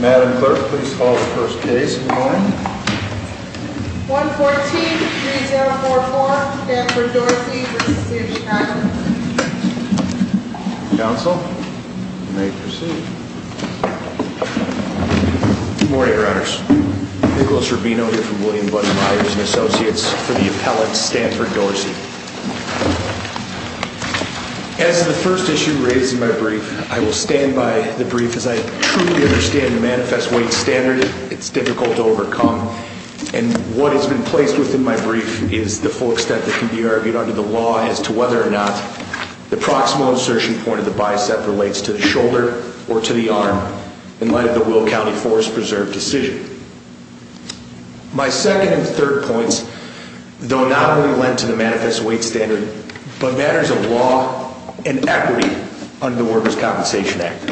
Madam Clerk, please call the first case of the morning. 1143044, Stanford-Dorsey v. Sears-Chapman Counsel, you may proceed. Good morning, Riders. Nicholas Rubino here from William Button Meyers & Associates for the appellate Stanford-Dorsey. As of the first issue raised in my brief, I will stand by the brief as I truly understand the manifest weight standard it's difficult to overcome. And what has been placed within my brief is the full extent that can be argued under the law as to whether or not the proximal insertion point of the bicep relates to the shoulder or to the arm in light of the Will County Forest Preserve decision. My second and third points, though not only lend to the manifest weight standard, but matters of law and equity under the Workers' Compensation Act.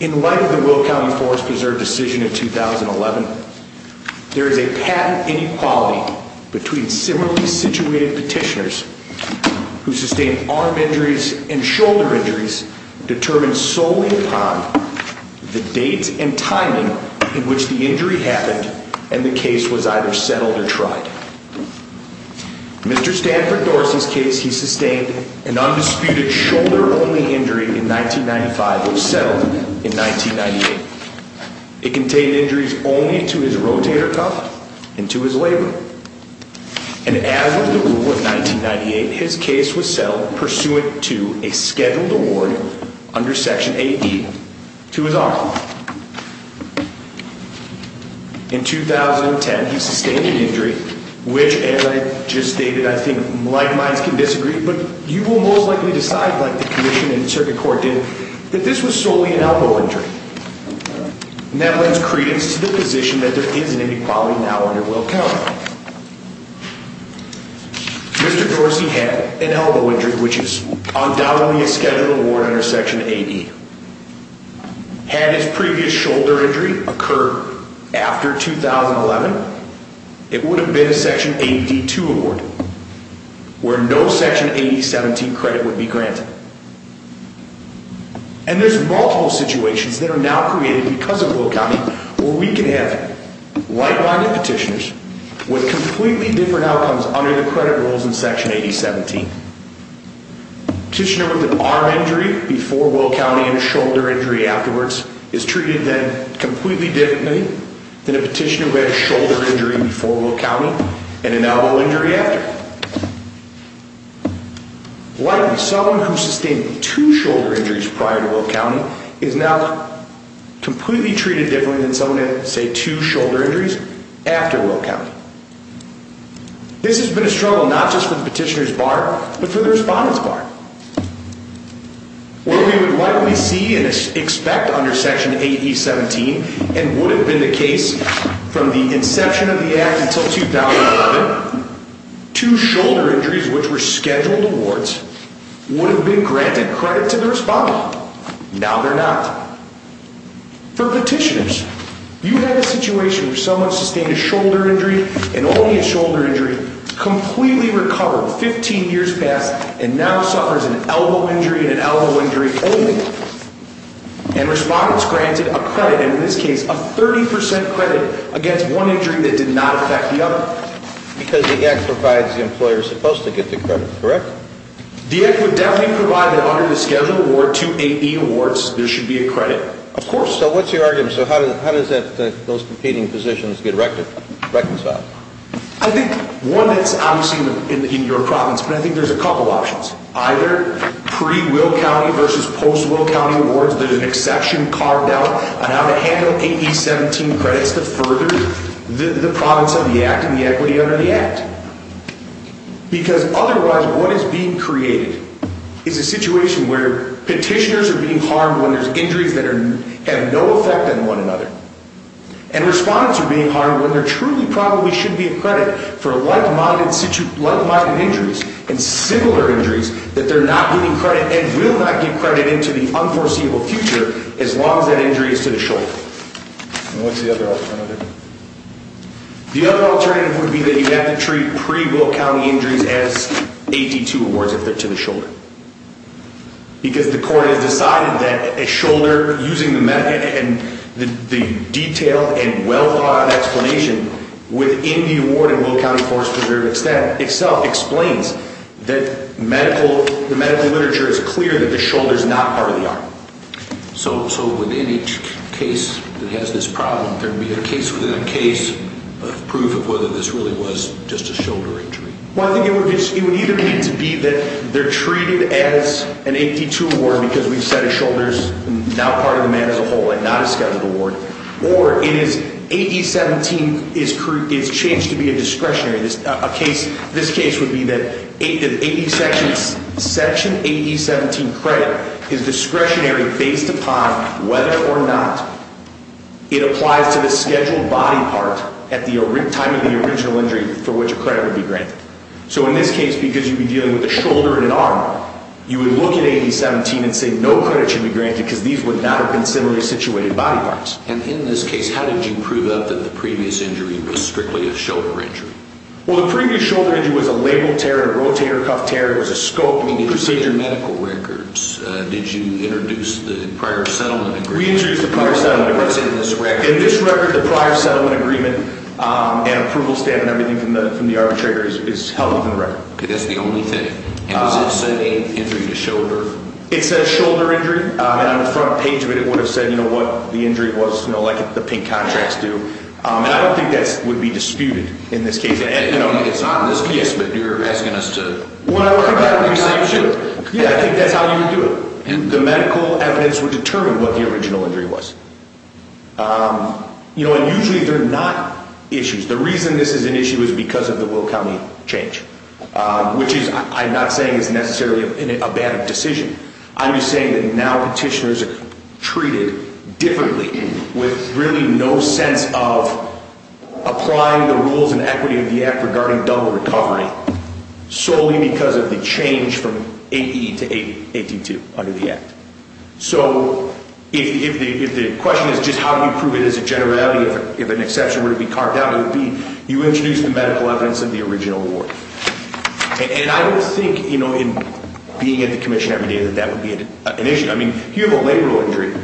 In light of the Will County Forest Preserve decision in 2011, there is a patent inequality between similarly situated petitioners who sustained arm injuries and shoulder injuries determined solely upon the date and timing in which the injury happened and the case was either settled or tried. In Mr. Stanford Dorsey's case, he sustained an undisputed shoulder-only injury in 1995 and was settled in 1998. It contained injuries only to his rotator cuff and to his labrum. And as of the rule of 1998, his case was settled pursuant to a scheduled award under Section 8E to his arm. In 2010, he sustained an injury which, as I just stated, I think like-minds can disagree, but you will most likely decide, like the Commission and Circuit Court did, that this was solely an elbow injury. And that lends credence to the position that there is an inequality now under Will County. Mr. Dorsey had an elbow injury which is undoubtedly a scheduled award under Section 8E. Had his previous shoulder injury occurred after 2011, it would have been a Section 8D-2 award where no Section 8E-17 credit would be granted. And there's multiple situations that are now created because of Will County where we can have like-minded petitioners with completely different outcomes under the credit rules in Section 8E-17. A petitioner with an arm injury before Will County and a shoulder injury afterwards is treated then completely differently than a petitioner who had a shoulder injury before Will County and an elbow injury after. Likely, someone who sustained two shoulder injuries prior to Will County is now completely treated differently than someone who had, say, two shoulder injuries after Will County. This has been a struggle not just for the petitioner's bar, but for the respondent's bar. What we would likely see and expect under Section 8E-17 and would have been the case from the inception of the Act until 2011, two shoulder injuries which were scheduled awards would have been granted credit to the respondent. Now they're not. For petitioners, you had a situation where someone sustained a shoulder injury and only a shoulder injury, completely recovered 15 years past, and now suffers an elbow injury and an elbow injury only. And respondents granted a credit, and in this case a 30% credit, against one injury that did not affect the other. Because the Act provides the employer's supposed to get the credit, correct? The Act would definitely provide that under the scheduled award, two 8E awards, there should be a credit. Of course. So what's your argument? So how does that, those competing positions get reconciled? I think one that's obviously in your province, but I think there's a couple options. Either pre-Will County versus post-Will County awards, there's an exception carved out on how to handle 8E-17 credits to further the province under the Act and the equity under the Act. Because otherwise what is being created is a situation where petitioners are being harmed when there's injuries that have no effect on one another. And respondents are being harmed when there truly probably should be a credit for like-minded injuries and similar injuries that they're not getting credit and will not get credit into the unforeseeable future as long as that injury is to the shoulder. And what's the other alternative? The other alternative would be that you have to treat pre-Will County injuries as 8E-2 awards if they're to the shoulder. Because the court has decided that a shoulder, using the detailed and well thought out explanation within the award in Will County Forest Preserve extent itself explains that medical, the medical literature is clear that the shoulder is not part of the arm. So within each case that has this problem, there would be a case within a case of proof of whether this really was just a shoulder injury. Well I think it would either need to be that they're treated as an 8E-2 award because we've said a shoulder is now part of the man as a whole and not a scheduled award. Or it is 8E-17 is changed to be a discretionary. This case would be that section 8E-17 credit is discretionary based upon whether or not it applies to the scheduled body part at the time of the original injury for which a credit would be granted. So in this case because you'd be dealing with a shoulder and an arm, you would look at 8E-17 and say no credit should be granted because these would not have been similarly situated body parts. And in this case how did you prove up that the previous injury was strictly a shoulder injury? Well the previous shoulder injury was a labeled tear, a rotator cuff tear. It was a scoped procedure. I mean did you get medical records? Did you introduce the prior settlement agreement? We introduced the prior settlement agreement. In this record the prior settlement agreement and approval stamp and everything from the arbitrator is held in the record. That's the only thing. And does it say injury to shoulder? It says shoulder injury. On the front page of it it would have said what the injury was like the pink contracts do. And I don't think that would be disputed in this case. It's not in this case but you're asking us to... Well I think that's how you would do it. The medical evidence would determine what the original injury was. And usually they're not issues. The reason this is an issue is because of the Will County change. Which I'm not saying is necessarily a bad decision. I'm just saying that now petitioners are treated differently with really no sense of applying the rules and equity of the Act regarding double recovery. Solely because of the change from 8E to 8D2 under the Act. So if the question is just how do you prove it as a generality, if an exception were to be carved out, you introduce the medical evidence of the original award. And I don't think in being at the Commission every day that that would be an issue. If you have a labral injury,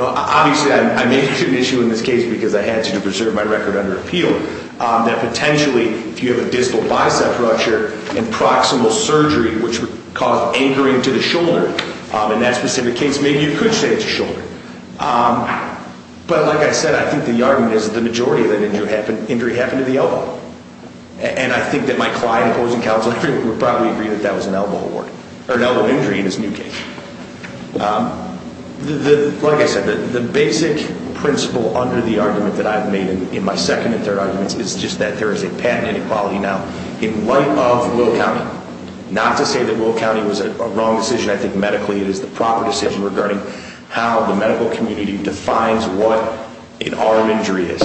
obviously I make it an issue in this case because I had to preserve my record under appeal, that potentially if you have a distal bicep rupture and proximal surgery which would cause anchoring to the shoulder, in that specific case maybe you could say it's a shoulder. But like I said, I think the argument is that the majority of that injury happened to the elbow. And I think that my client opposing counsel would probably agree that that was an elbow injury in this new case. Like I said, the basic principle under the argument that I've made in my second and third arguments is just that there is a patent inequality now in light of Will County. Not to say that Will County was a wrong decision. I think medically it is the proper decision regarding how the medical community defines what an arm injury is.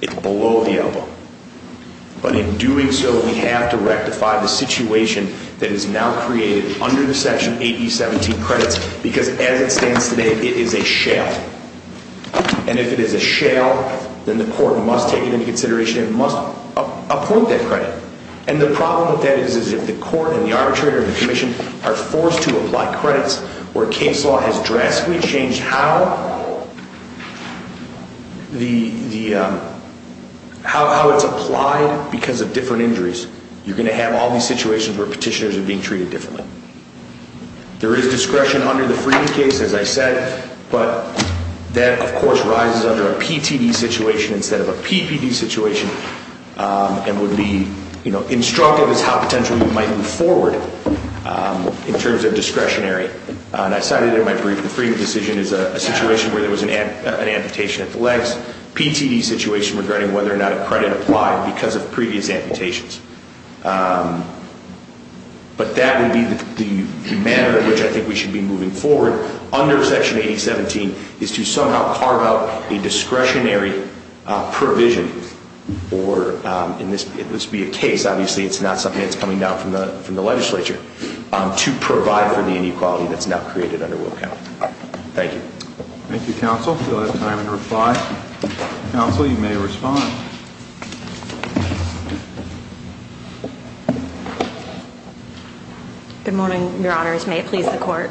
It's below the elbow. But in doing so, we have to rectify the situation that is now created under the Section 8E17 credits because as it stands today, it is a shale. And if it is a shale, then the court must take it into consideration and must appoint that credit. And the problem with that is if the court and the arbitrator and the commission are forced to apply credits, where case law has drastically changed how it's applied because of different injuries, you're going to have all these situations where petitioners are being treated differently. There is discretion under the Freedom case, as I said, but that of course rises under a PTD situation instead of a PPD situation and would be instructive as how potentially you might move forward in terms of discretionary. And I cited it in my brief, the Freedom decision is a situation where there was an amputation at the legs. PTD situation regarding whether or not a credit applied because of previous amputations. But that would be the manner in which I think we should be moving forward under Section 8E17 is to somehow carve out a discretionary provision or, and this would be a case, obviously it's not something that's coming down from the legislature, to provide for the inequality that's now created under Wilk County. Thank you. Thank you, Counsel. Do I have time to reply? Counsel, you may respond. Good morning, Your Honors. May it please the Court.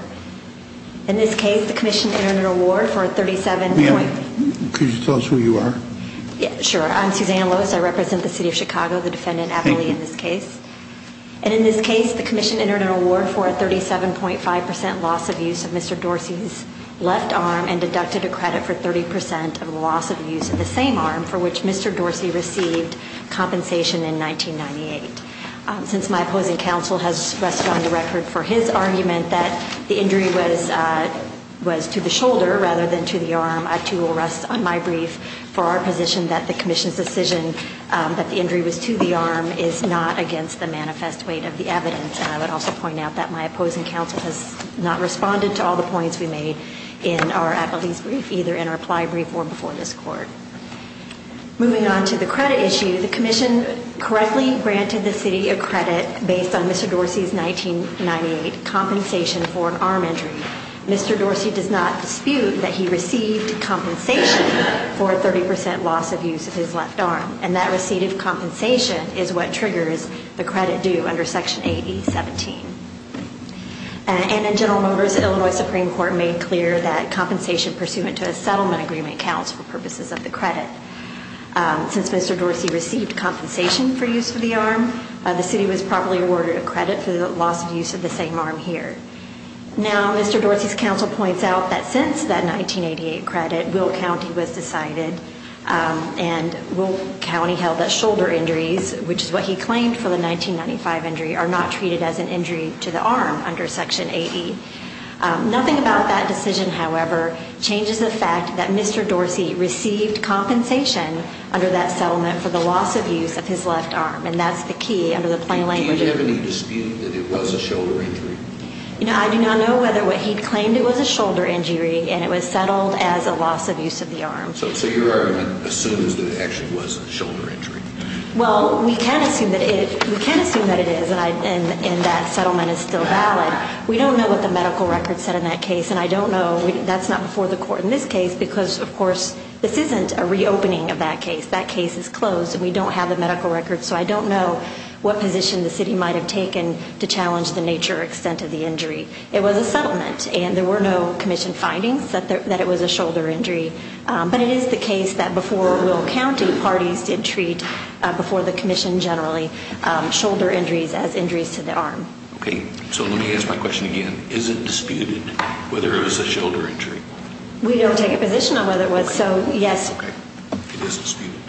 In this case, the Commission entered an award for a 37.5% loss of use of Mr. Dorsey's left arm Could you tell us who you are? Sure. I'm Susanna Lois. I represent the City of Chicago, the defendant, Appley, in this case. And in this case, the Commission entered an award for a 37.5% loss of use of Mr. Dorsey's left arm and deducted a credit for 30% of the loss of use of the same arm for which Mr. Dorsey received compensation in 1998. Since my opposing counsel has rested on the record for his argument that the injury was to the shoulder rather than to the arm, I too will rest on my brief for our position that the Commission's decision that the injury was to the arm is not against the manifest weight of the evidence. And I would also point out that my opposing counsel has not responded to all the points we made in our Appley's brief, either in our reply brief or before this Court. Moving on to the credit issue, the Commission correctly granted the City a credit based on Mr. Dorsey's 1998 compensation for an arm injury. Mr. Dorsey does not dispute that he received compensation for a 30% loss of use of his left arm and that receipt of compensation is what triggers the credit due under Section 8017. And in General Motors, Illinois Supreme Court made clear that compensation pursuant to a settlement agreement counts for purposes of the credit. Since Mr. Dorsey received compensation for use of the arm, the City was properly awarded a credit for the loss of use of the same arm here. Now, Mr. Dorsey's counsel points out that since that 1988 credit, Will County was decided and Will County held that shoulder injuries, which is what he claimed for the 1995 injury, are not treated as an injury to the arm under Section 80. Nothing about that decision, however, changes the fact that Mr. Dorsey received compensation under that settlement for the loss of use of his left arm and that's the key under the plain language. Do you have any dispute that it was a shoulder injury? I do not know whether what he claimed it was a shoulder injury and it was settled as a loss of use of the arm. Your argument assumes that it actually was a shoulder injury. Well, we can assume that it is and that settlement is still valid. We don't know what the medical record said in that case and I don't know. That's not before the court in this case because, of course, this isn't a reopening of that case. That case is closed and we don't have the medical record so I don't know what position the City might have taken to challenge the nature or extent of the injury. It was a settlement and there were no commission findings that it was a shoulder injury. But it is the case that before Will County, parties did treat, before the commission generally, shoulder injuries as injuries to the arm. Okay, so let me ask my question again. Is it disputed whether it was a shoulder injury? We don't take a position on whether it was. It is disputed?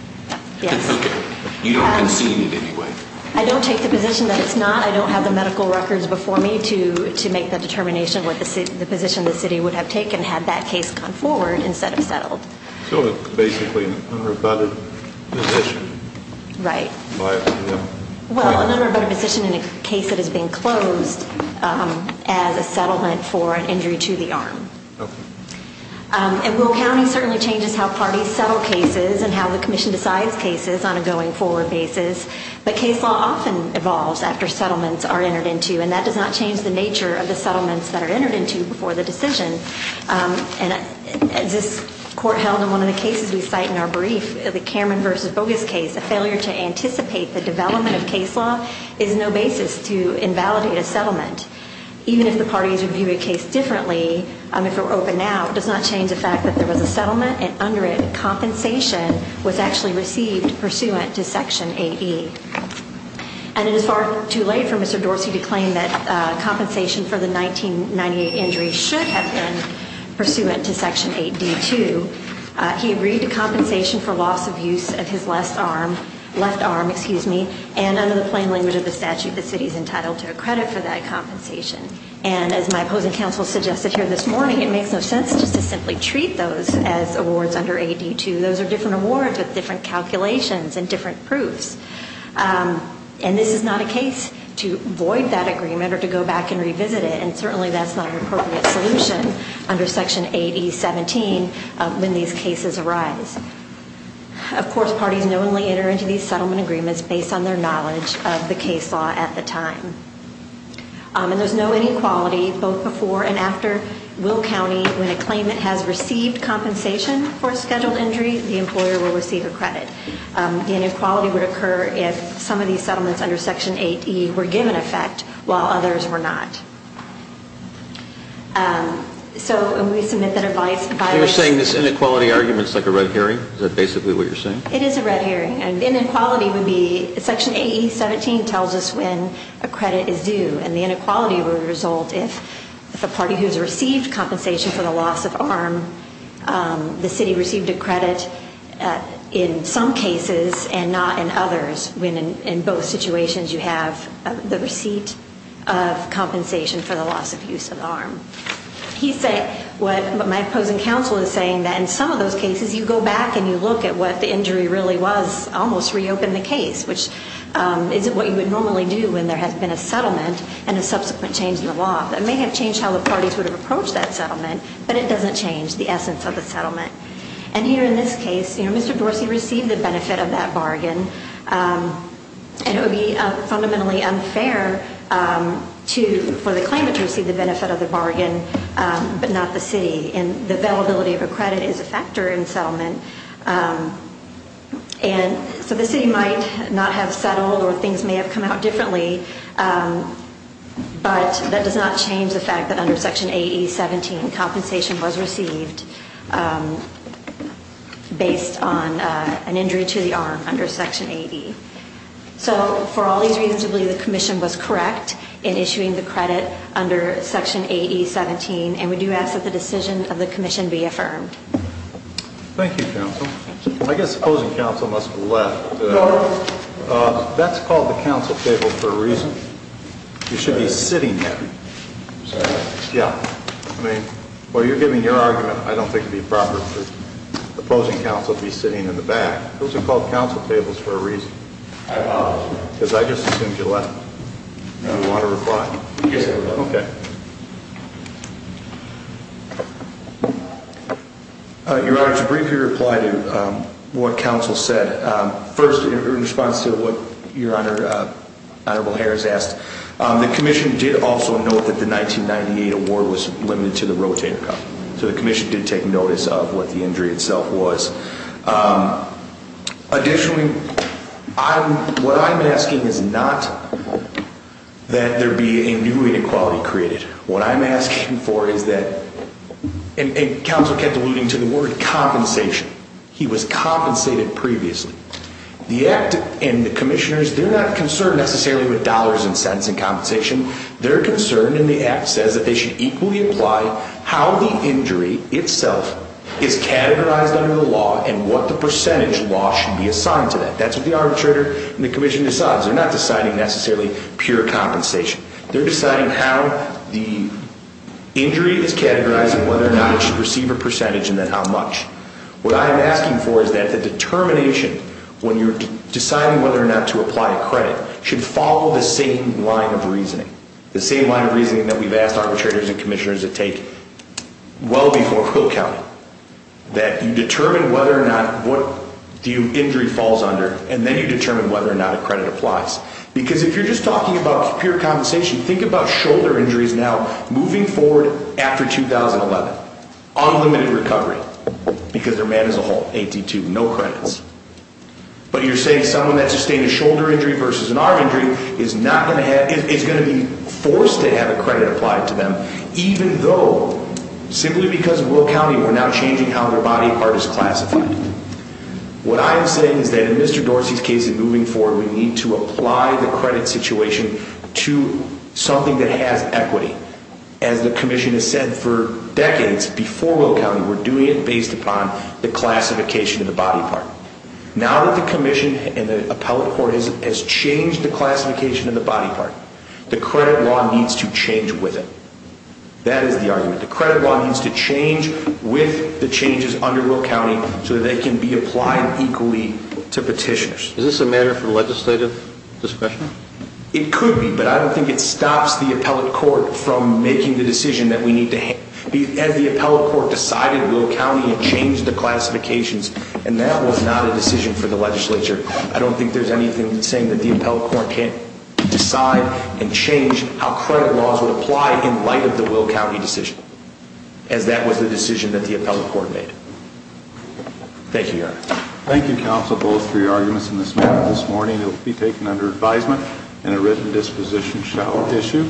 Yes. You don't concede in any way? I don't take the position that it's not. I don't have the medical records before me to make the determination of the position the City would have taken had that case gone forward instead of settled. So it's basically an unrebutted position? Right. Well, an unrebutted position in a case that is being closed as a settlement for an injury to the arm. Okay. And Will County certainly changes how parties settle cases and how the commission decides cases on a going forward basis. But case law often evolves after settlements are entered into and that does not change the nature of the settlements that are entered into before the decision. As this Court held in one of the cases we cite in our brief, the Cameron v. Bogus case, a failure to anticipate the development of case law is no basis to invalidate a settlement. Even if the parties review a case differently, if it were open now, it does not change the fact that there was a settlement and under it, compensation was actually received pursuant to Section 8E. And it is far too late for Mr. Dorsey to claim that compensation for the 1998 injury should have been pursuant to Section 8D2. He agreed to compensation for loss of use of his left arm and under the plain language of the statute, the City is entitled to a credit for that compensation. And as my opposing counsel suggested here this morning, it makes no sense just to simply treat those as awards under 8D2. Those are different awards with different calculations and different proofs. And this is not a case to void that agreement or to go back and revisit it. And certainly that's not an appropriate solution under Section 8E17 when these cases arise. Of course, parties knowingly enter into these settlement agreements based on their knowledge of the case law at the time. And there's no inequality both before and after Will County, when a claimant has received compensation for a scheduled injury, the employer will receive a credit. The inequality would occur if some of these settlements under Section 8E were given effect while others were not. So when we submit that advice... You're saying this inequality argument is like a red herring? Is that basically what you're saying? It is a red herring. And the inequality would be Section 8E17 tells us when a credit is due. And the inequality would result if the party who has received compensation for the loss of arm, the city received a credit in some cases and not in others. When in both situations you have the receipt of compensation for the loss of use of arm. My opposing counsel is saying that in some of those cases you go back and you look at what the injury really was, almost reopen the case, which is what you would normally do when there has been a settlement and a subsequent change in the law. It may have changed how the parties would have approached that settlement, but it doesn't change the essence of the settlement. And here in this case, Mr. Dorsey received the benefit of that bargain. And it would be fundamentally unfair for the claimant to receive the benefit of the bargain, but not the city. And the availability of a credit is a factor in settlement. And so the city might not have settled or things may have come out differently, but that does not change the fact that under Section AE17 compensation was received based on an injury to the arm under Section AE. So for all these reasons, I believe the Commission was correct in issuing the credit under Section AE17. And we do ask that the decision of the Commission be affirmed. Thank you, counsel. I guess opposing counsel must have left. That's called the counsel table for a reason. You should be sitting there. Yeah. I mean, while you're giving your argument, I don't think it would be proper for opposing counsel to be sitting in the back. Those are called counsel tables for a reason. I apologize. Because I just assumed you left. You want to reply? Yes. Okay. Your Honor, to briefly reply to what counsel said. First, in response to what Your Honor, Honorable Harris asked, the Commission did also note that the 1998 award was limited to the rotator cuff. So the Commission did take notice of what the injury itself was. Additionally, what I'm asking is not that there be a new inequality created. What I'm asking for is that, and counsel kept alluding to the word compensation. He was compensated previously. The Act and the Commissioners, they're not concerned necessarily with dollars and cents in compensation. They're concerned, and the Act says that they should equally apply how the injury itself is categorized under the law and what the percentage law should be assigned to that. That's what the arbitrator and the Commission decides. They're not deciding necessarily pure compensation. They're deciding how the injury is categorized and whether or not it should receive a percentage and then how much. What I'm asking for is that the determination when you're deciding whether or not to apply a credit should follow the same line of reasoning. The same line of reasoning that we've asked arbitrators and Commissioners to take well before Phil County. That you determine whether or not what injury falls under and then you determine whether or not a credit applies. Because if you're just talking about pure compensation, think about shoulder injuries now moving forward after 2011. Unlimited recovery because they're mad as a hole. AT2, no credits. But you're saying someone that sustained a shoulder injury versus an arm injury is going to be forced to have a credit applied to them even though, simply because of Will County, we're now changing how their body part is classified. What I am saying is that in Mr. Dorsey's case and moving forward, we need to apply the credit situation to something that has equity. As the Commission has said for decades before Will County, we're doing it based upon the classification of the body part. Now that the Commission and the appellate court has changed the classification of the body part, the credit law needs to change with it. That is the argument. The credit law needs to change with the changes under Will County so that they can be applied equally to petitioners. Is this a matter for legislative discussion? It could be, but I don't think it stops the appellate court from making the decision that we need to have. As the appellate court decided Will County and changed the classifications, and that was not a decision for the legislature. I don't think there's anything saying that the appellate court can't decide and change how credit laws would apply in light of the Will County decision. As that was the decision that the appellate court made. Thank you, Your Honor. Thank you, counsel, both for your arguments. And this morning it will be taken under advisement and a written disposition shall issue.